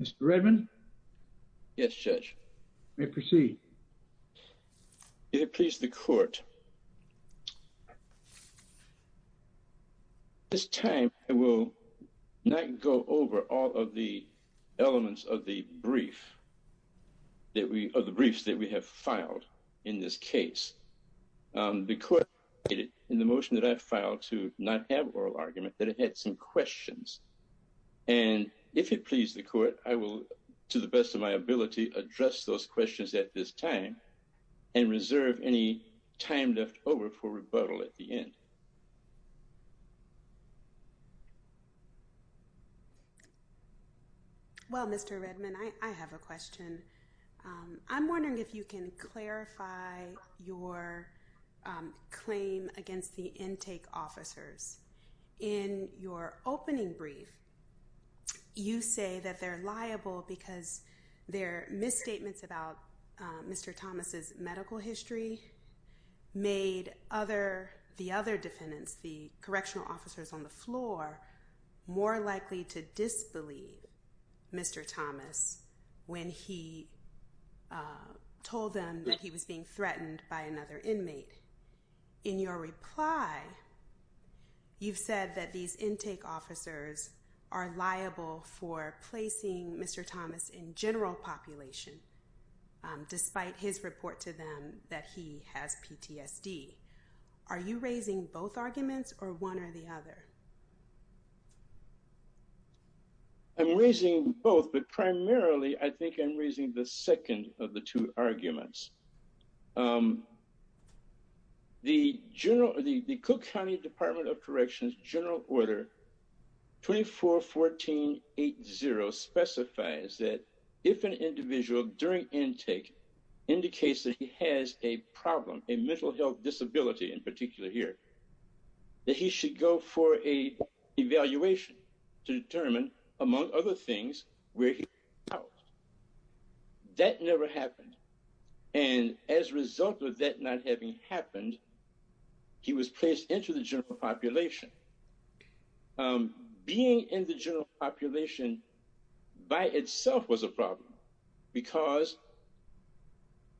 Mr. Redmond? Yes, Judge. You may proceed. If it please the court, at this time I will not go over all of the elements of the brief that we, of the briefs that we have filed in this case. The court in the motion that I filed to not have oral argument, that it had some questions. And if it please the court, I will, to the best of my ability, address those questions at this time and reserve any time left over for rebuttal at the end. Well, Mr. Redmond, I have a question. I'm wondering if you can clarify your claim against the intake officers. In your opening brief, you say that they're liable because their misstatements about Mr. Thomas's medical history made the other defendants, the correctional officers on the floor, more likely to disbelieve Mr. Thomas when he told them that he was being threatened by another person. In your reply, you've said that these intake officers are liable for placing Mr. Thomas in general population, despite his report to them that he has PTSD. Are you raising both arguments or one or the other? I'm raising both, but primarily I think I'm second of the two arguments. The Cook County Department of Corrections General Order 241480 specifies that if an individual during intake indicates that he has a problem, a mental health disability in particular here, that he should go for a evaluation to determine, among other things, where he is. That never happened. And as a result of that not having happened, he was placed into the general population. Being in the general population by itself was a problem because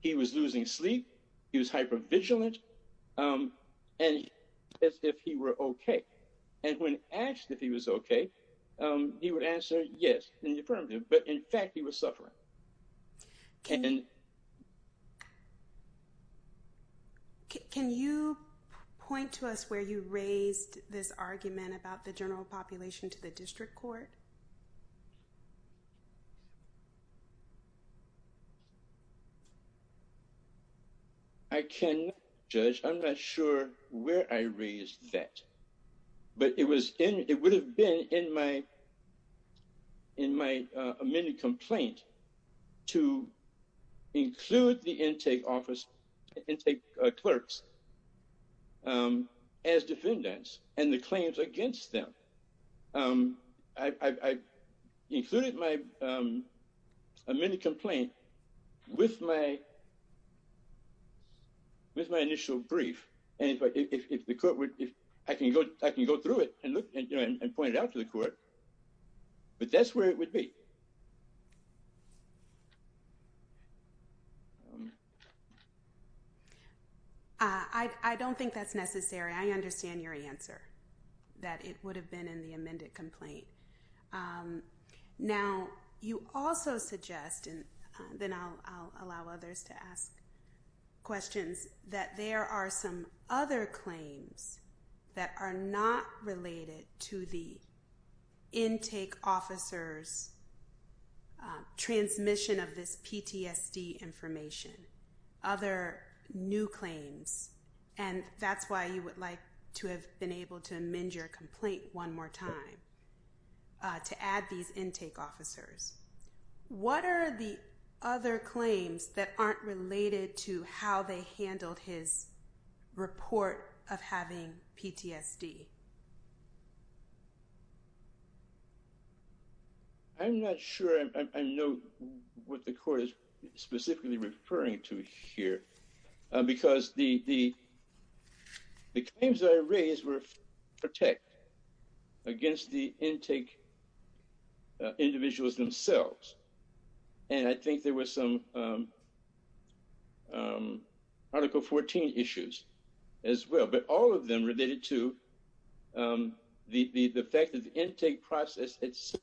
he was losing sleep, he was hypervigilant, and asked if he were okay. And when asked if he was okay, he would answer yes in the affirmative, but in fact he was suffering. Can you point to us where you raised this argument about the general population to the district court? I cannot judge. I'm not sure where I raised that, but it was in, it would have been in my amended complaint to include the intake office, intake clerks, as defendants and the claims against them. I included my amended complaint with my case out to the court, but that's where it would be. I don't think that's necessary. I understand your answer, that it would have been in the amended complaint. Now you also suggest, and then I'll allow others to ask questions, that there are some other claims that are not related to the intake officer's transmission of this PTSD information. Other new claims, and that's why you would like to have been able to amend your complaint one more time, to add these intake officers. What are the other claims that aren't related to how they handled his report of having PTSD? I'm not sure I know what the court is specifically referring to here, because the claims that I raised were protected against the intake individuals themselves, and I think there was some Article 14 issues as well, but all of them related to the fact that the intake process it's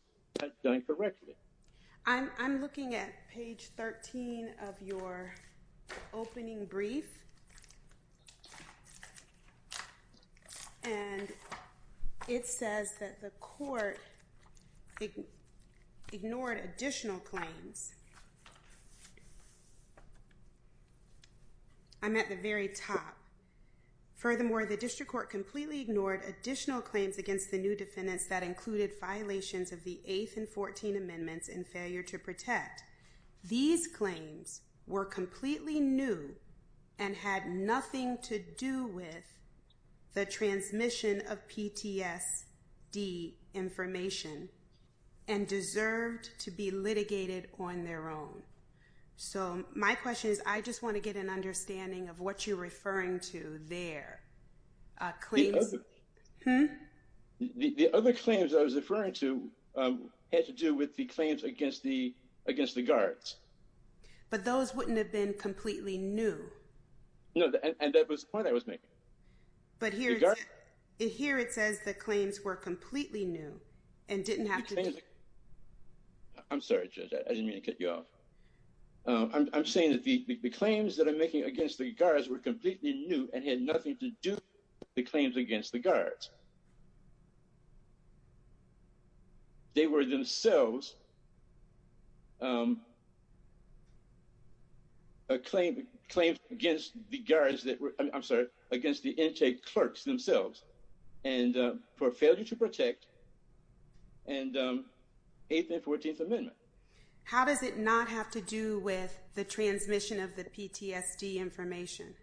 done correctly. I'm looking at page 13 of your opening brief, and it says that the court ignored additional claims. I'm at the very top. Furthermore, the district court completely ignored additional claims against the new defendants that included violations of the 8th and 14th Amendments and failure to protect. These claims were completely new and had nothing to do with the transmission of PTSD information and deserved to be litigated on their own. So my question is, I just want to get an understanding of what you're referring to there. The other claims I was referring to had to do with the claims against the against the guards. But those wouldn't have been completely new. No, and that was the point I was making. But here it says the claims were completely new and didn't have to... I'm sorry Judge, I didn't mean to cut you off. I'm saying that the claims that I'm making against the guards were completely new and had nothing to do with the claims against the guards. They were themselves claims against the guards that were... I'm sorry, against the intake clerks themselves and for failure to protect and 8th and 14th Amendment. How does it not have to do with the transmission of the PTSD information?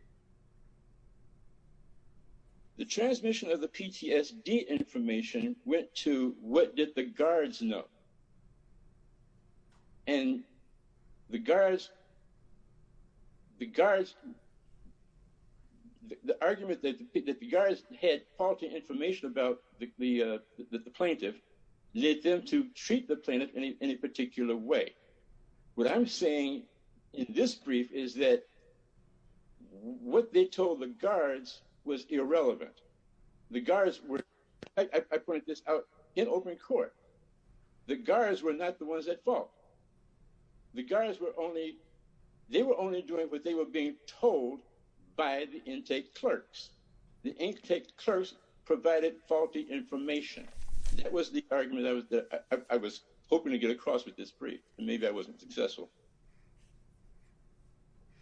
The transmission of the PTSD information went to what did the guards know. And the guards, the guards, the argument that the guards had faulty information about the plaintiff led them to treat the plaintiff in any particular way. What I'm saying in this brief is that what they told the guards was irrelevant. The guards were, I point this out, in open court. The guards were not the ones at fault. The guards were only, they were only doing what they were being told by the intake clerks. The argument I was hoping to get across with this brief, maybe I wasn't successful.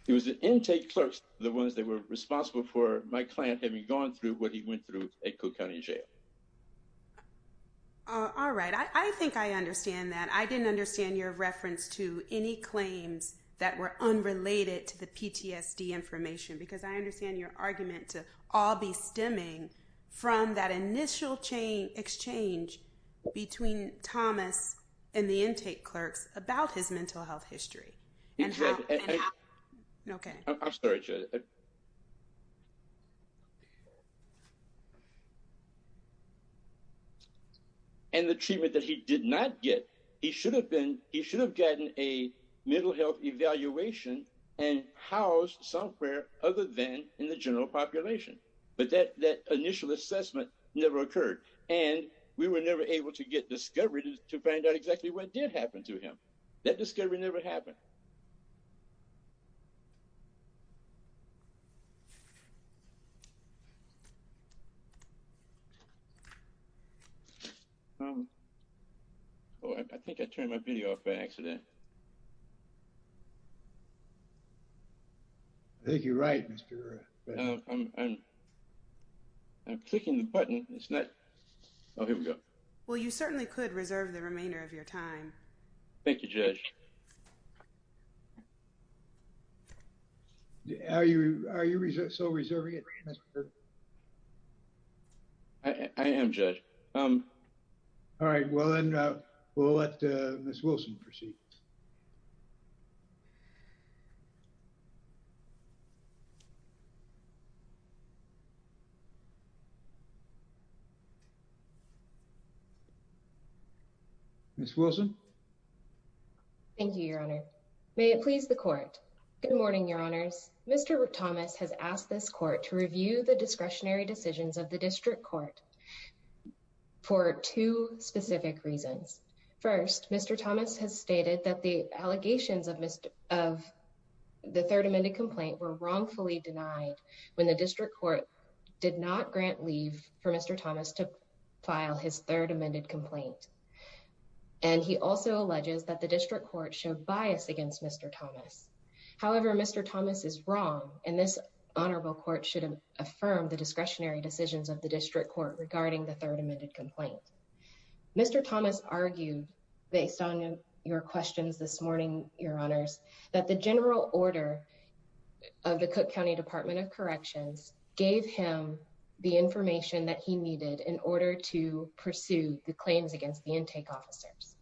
It was the intake clerks, the ones that were responsible for my client having gone through what he went through at Cook County Jail. All right, I think I understand that. I didn't understand your reference to any claims that were unrelated to the PTSD information because I understand your argument to all be stemming from that initial exchange between Thomas and the intake clerks about his mental health history. Okay, I'm sorry. And the treatment that he did not get, he should have been, he should have gotten a mental health evaluation and housed somewhere other than in the population. But that initial assessment never occurred. And we were never able to get discovery to find out exactly what did happen to him. That discovery never happened. Oh, I think I turned my video off by accident. I think you're right, Mr. I'm clicking the button. It's not. Oh, here we go. Well, you certainly could reserve the remainder of your time. Thank you, Judge. How are you? Are you so reserving it? I am, Judge. Um, all right, well, then we'll let Miss Wilson proceed. Thank you, Your Honor. May it please the court? Good morning, Your Honors. Mr. Thomas has asked this court to review the discretionary decisions of the district court for two specific reasons. First, Mr. Thomas has stated that the allegations of the third amended complaint were wrongfully denied when the district court did not grant leave for Mr. Thomas to file his third amended complaint. And he also alleges that the district court showed bias against Mr. Thomas. However, Mr. Thomas is wrong, and this honorable court should affirm the discretionary decisions of the district court regarding the third amended complaint. Mr. Thomas argued based on your questions this morning, Your Honors, that the general order of the Cook County Department of Corrections gave him the information that he needed in order to pursue the claims against the intake officers.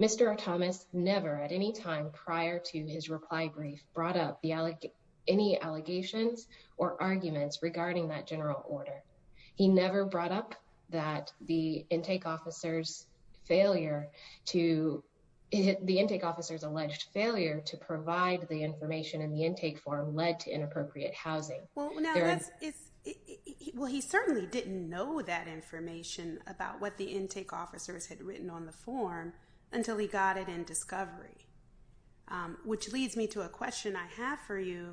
Mr. Thomas never at any time prior to his reply brief brought up the any allegations or arguments regarding that general order. He never brought up that the intake officers failure to the intake officers alleged failure to provide the information in the intake form led to inappropriate housing. Well, he certainly didn't know that information about what the intake officers had written on the form until he got it in discovery, which leads me to a question I have for you.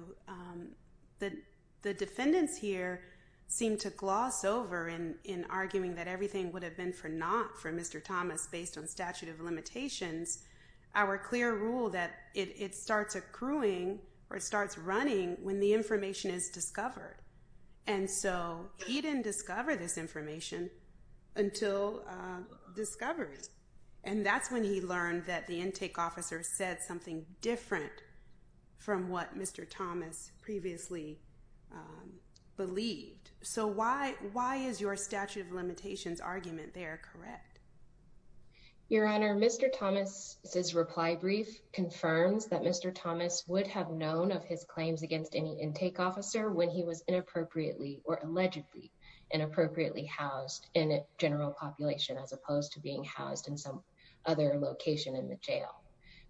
The defendants here seem to gloss over in arguing that everything would have been for not for Mr. Thomas based on statute of limitations, our clear rule that it starts accruing or starts running when the information is discovered. And so he didn't discover this information until discovery. And that's when he learned that the intake officer said something different from what Mr. Thomas previously believed. So why is your statute of limitations argument there correct? Your Honor, Mr. Thomas says reply brief confirms that Mr. Thomas would have known of his claims against any intake officer when he was inappropriately or allegedly inappropriately housed in a general population as opposed to being housed in some other location in the jail.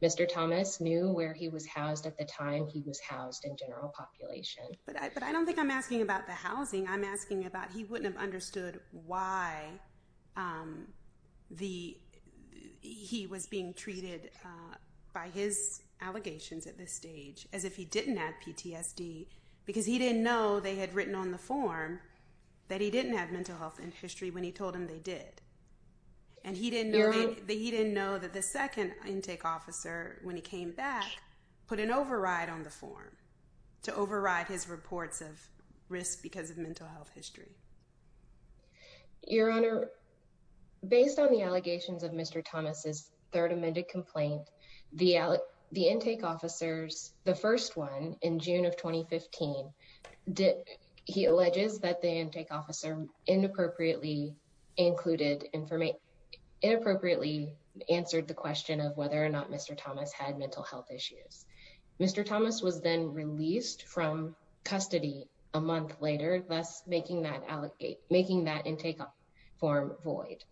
Mr. Thomas knew where he was housed at the time he was housed in general population. But I don't think I'm asking about the why he was being treated by his allegations at this stage as if he didn't have PTSD because he didn't know they had written on the form that he didn't have mental health and history when he told him they did. And he didn't know that the second intake officer when he came back put an override on the form to override his reports of risk because of mental health and history. Your Honor, based on the allegations of Mr. Thomas's third amended complaint, the intake officers, the first one in June of 2015, he alleges that the intake officer inappropriately included information, inappropriately answered the question of whether or not Mr. Thomas had mental health issues. Mr. Thomas was then released from custody a month later, thus making that intake form void.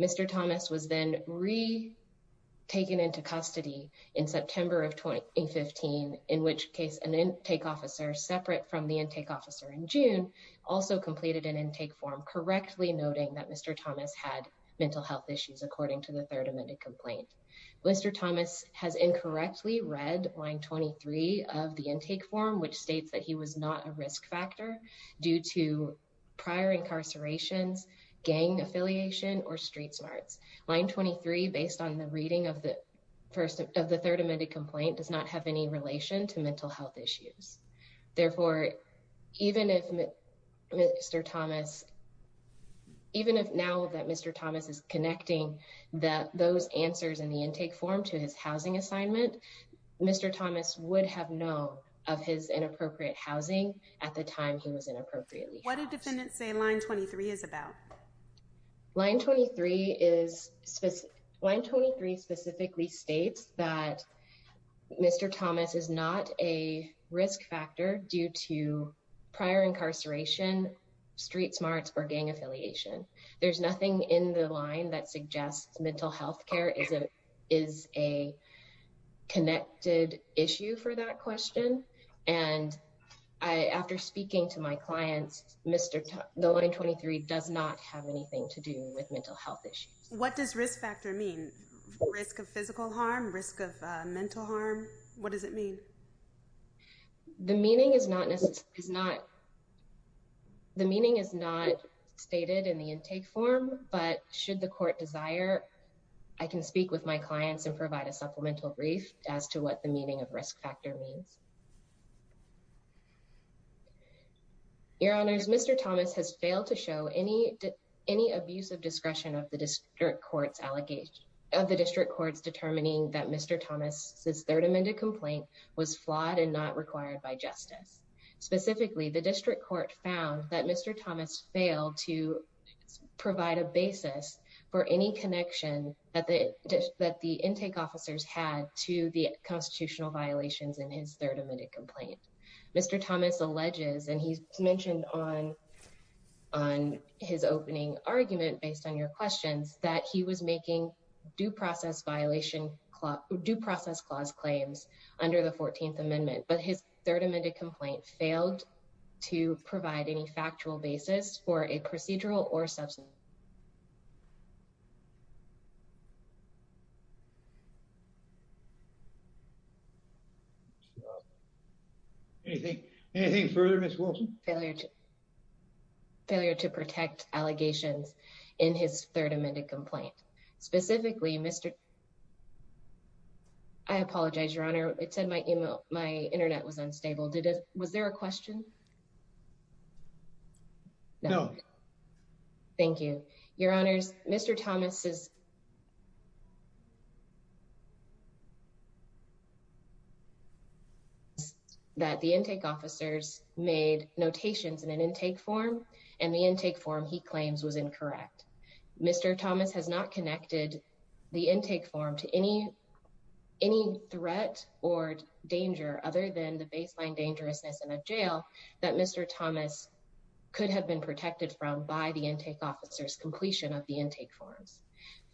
Mr. Thomas was then re-taken into custody in September of 2015, in which case an intake officer separate from the intake officer in June also completed an intake form correctly noting that Mr. Thomas had mental health issues according to the third amended complaint. Mr. Thomas has incorrectly read line 23 of the intake form which states that he was not a risk factor due to prior incarcerations, gang affiliation, or street smarts. Line 23, based on the reading of the first of the third amended complaint, does not have any relation to mental health issues. Therefore, even if Mr. Thomas, even if now that Mr. Thomas is connecting that those answers in the intake form to his housing assignment, Mr. Thomas would have known of his inappropriate housing at the time he was inappropriately housed. What did defendant say line 23 is about? Line 23 is, line 23 specifically states that Mr. Thomas is not a risk factor due to prior incarceration, street smarts, or gang affiliation. There's nothing in the line that suggests mental health care is a connected issue for that question and I, after speaking to my clients, Mr. Thomas, the line 23 does not have anything to do with mental health issues. What does risk factor mean? Risk of physical harm? Risk of mental harm? What does it mean? The meaning is not, is not, the meaning is not stated in the intake form but should the court desire, I can speak with my clients and provide a supplemental brief as to what the meaning of risk factor means. Your Honors, Mr. Thomas has failed to show any, any abuse of discretion of the district court's allegation, of the district courts determining that Mr. Thomas's third amended complaint was flawed and not required by justice. Specifically, the district court found that Mr. Thomas failed to provide a basis for any connection that the, that the intake officers had to the constitutional violations in his third amended complaint. Mr. Thomas alleges, and he's mentioned on, on his opening argument based on your questions, that he was making due process violation, due process clause claims under the 14th amendment, but his third amended complaint failed to provide any factual basis for a procedural or substance. Anything, anything further, Ms. Wilson? Failure to, failure to protect allegations in his third amended complaint. Specifically, Mr. I Was there a question? No. Thank you, Your Honors. Mr. Thomas is that the intake officers made notations in an intake form and the intake form he claims was incorrect. Mr. Thomas has not connected the intake form to any, any threat or danger other than the baseline dangerousness in a jail that Mr. Thomas could have been protected from by the intake officers completion of the intake forms.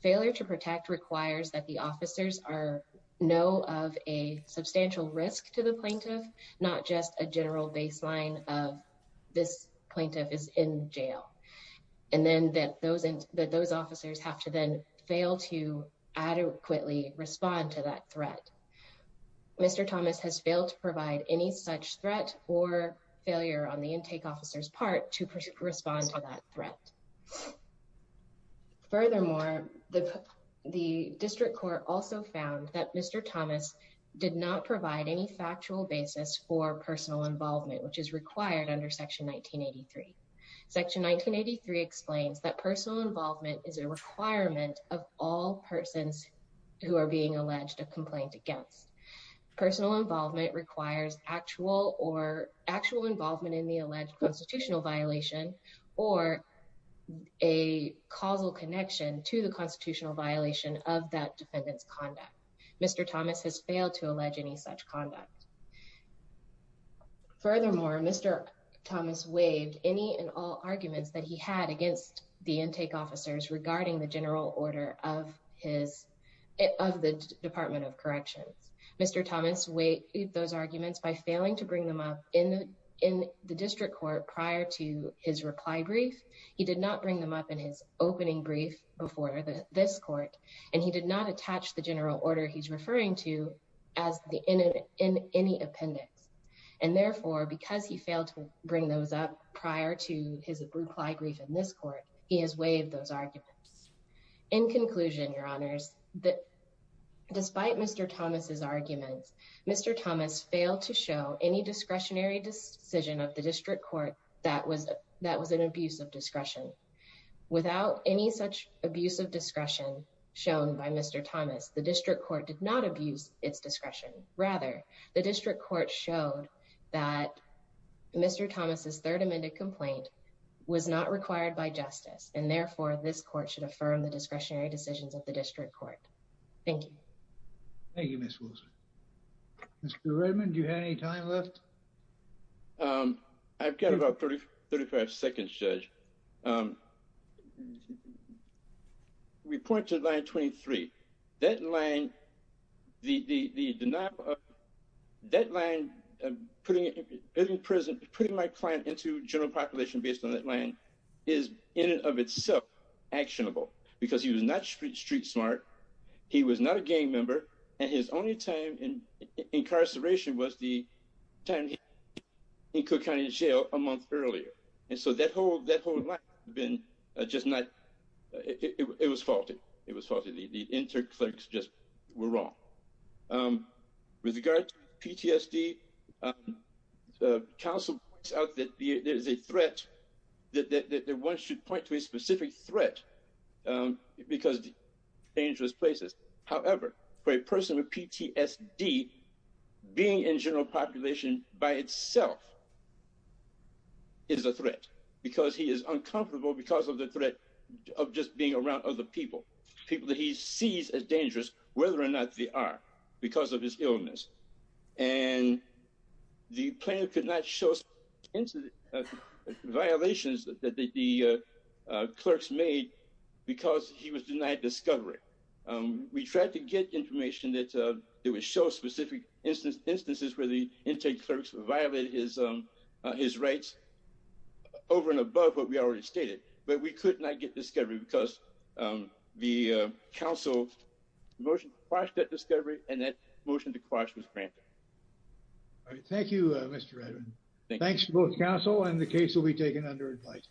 Failure to protect requires that the officers are know of a substantial risk to the plaintiff, not just a general baseline of this plaintiff is in jail. And then that those, that those officers have to then fail to adequately respond to that threat. Mr. Thomas has failed to provide any such threat or failure on the intake officers part to respond to that threat. Furthermore, the, the district court also found that Mr. Thomas did not provide any factual basis for personal involvement, which is required under section 1983. Section 1983 explains that personal involvement is a requirement of all persons who are being alleged a complaint against. Personal involvement requires actual or actual involvement in the alleged constitutional violation or a causal connection to the constitutional violation of that defendant's conduct. Mr. Thomas has failed to allege any such conduct. Furthermore, Mr. Thomas waived any and all arguments that he had against the plaintiff in the case of his, of the Department of Corrections. Mr. Thomas waived those arguments by failing to bring them up in, in the district court prior to his reply brief. He did not bring them up in his opening brief before this court, and he did not attach the general order he's referring to as the in, in any appendix. And therefore, because he failed to bring those up prior to his reply brief in this court, he has waived those arguments. In conclusion, Your Honors, that despite Mr. Thomas's arguments, Mr. Thomas failed to show any discretionary decision of the district court that was, that was an abuse of discretion. Without any such abuse of discretion shown by Mr. Thomas, the district court did not abuse its discretion. Rather, the district court showed that Mr. Thomas's third amended complaint was not required by justice, and therefore, this court should affirm the discretionary decisions of the district court. Thank you. Thank you, Ms. Wilson. Mr. Redmond, do you have any time left? Um, I've got about 30, 35 seconds, Judge. Um, we point to the line 23. That line, the denial of that line, putting it in prison, putting my client into general population based on that line is in and of itself actionable because he was not street smart. He was not a gang member, and his only time in incarceration was the time he was in Cook County Jail a month earlier. And so that whole, that whole line has been just not, it was faulted. It was faulted. The inter-clerks just were wrong. Um, with regard to PTSD, um, the council points out that there is a threat, that one should point to a specific threat, um, because dangerous places. However, for a person with PTSD, being in general population by itself is a threat because he is uncomfortable because of the threat of just being around other people, people that he sees as dangerous, whether or not they are because of his illness. And the plan could not show violations that the clerks made because he was denied discovery. Um, we tried to get information that, uh, that would show specific instances where the inter-clerks violated his, um, his rights over and above what we already stated, but we could not get discovery because, um, the, uh, council motion to quash that discovery and that motion to quash was granted. All right. Thank you, Mr. Redmond. Thanks for both council and the case will be taken under advice.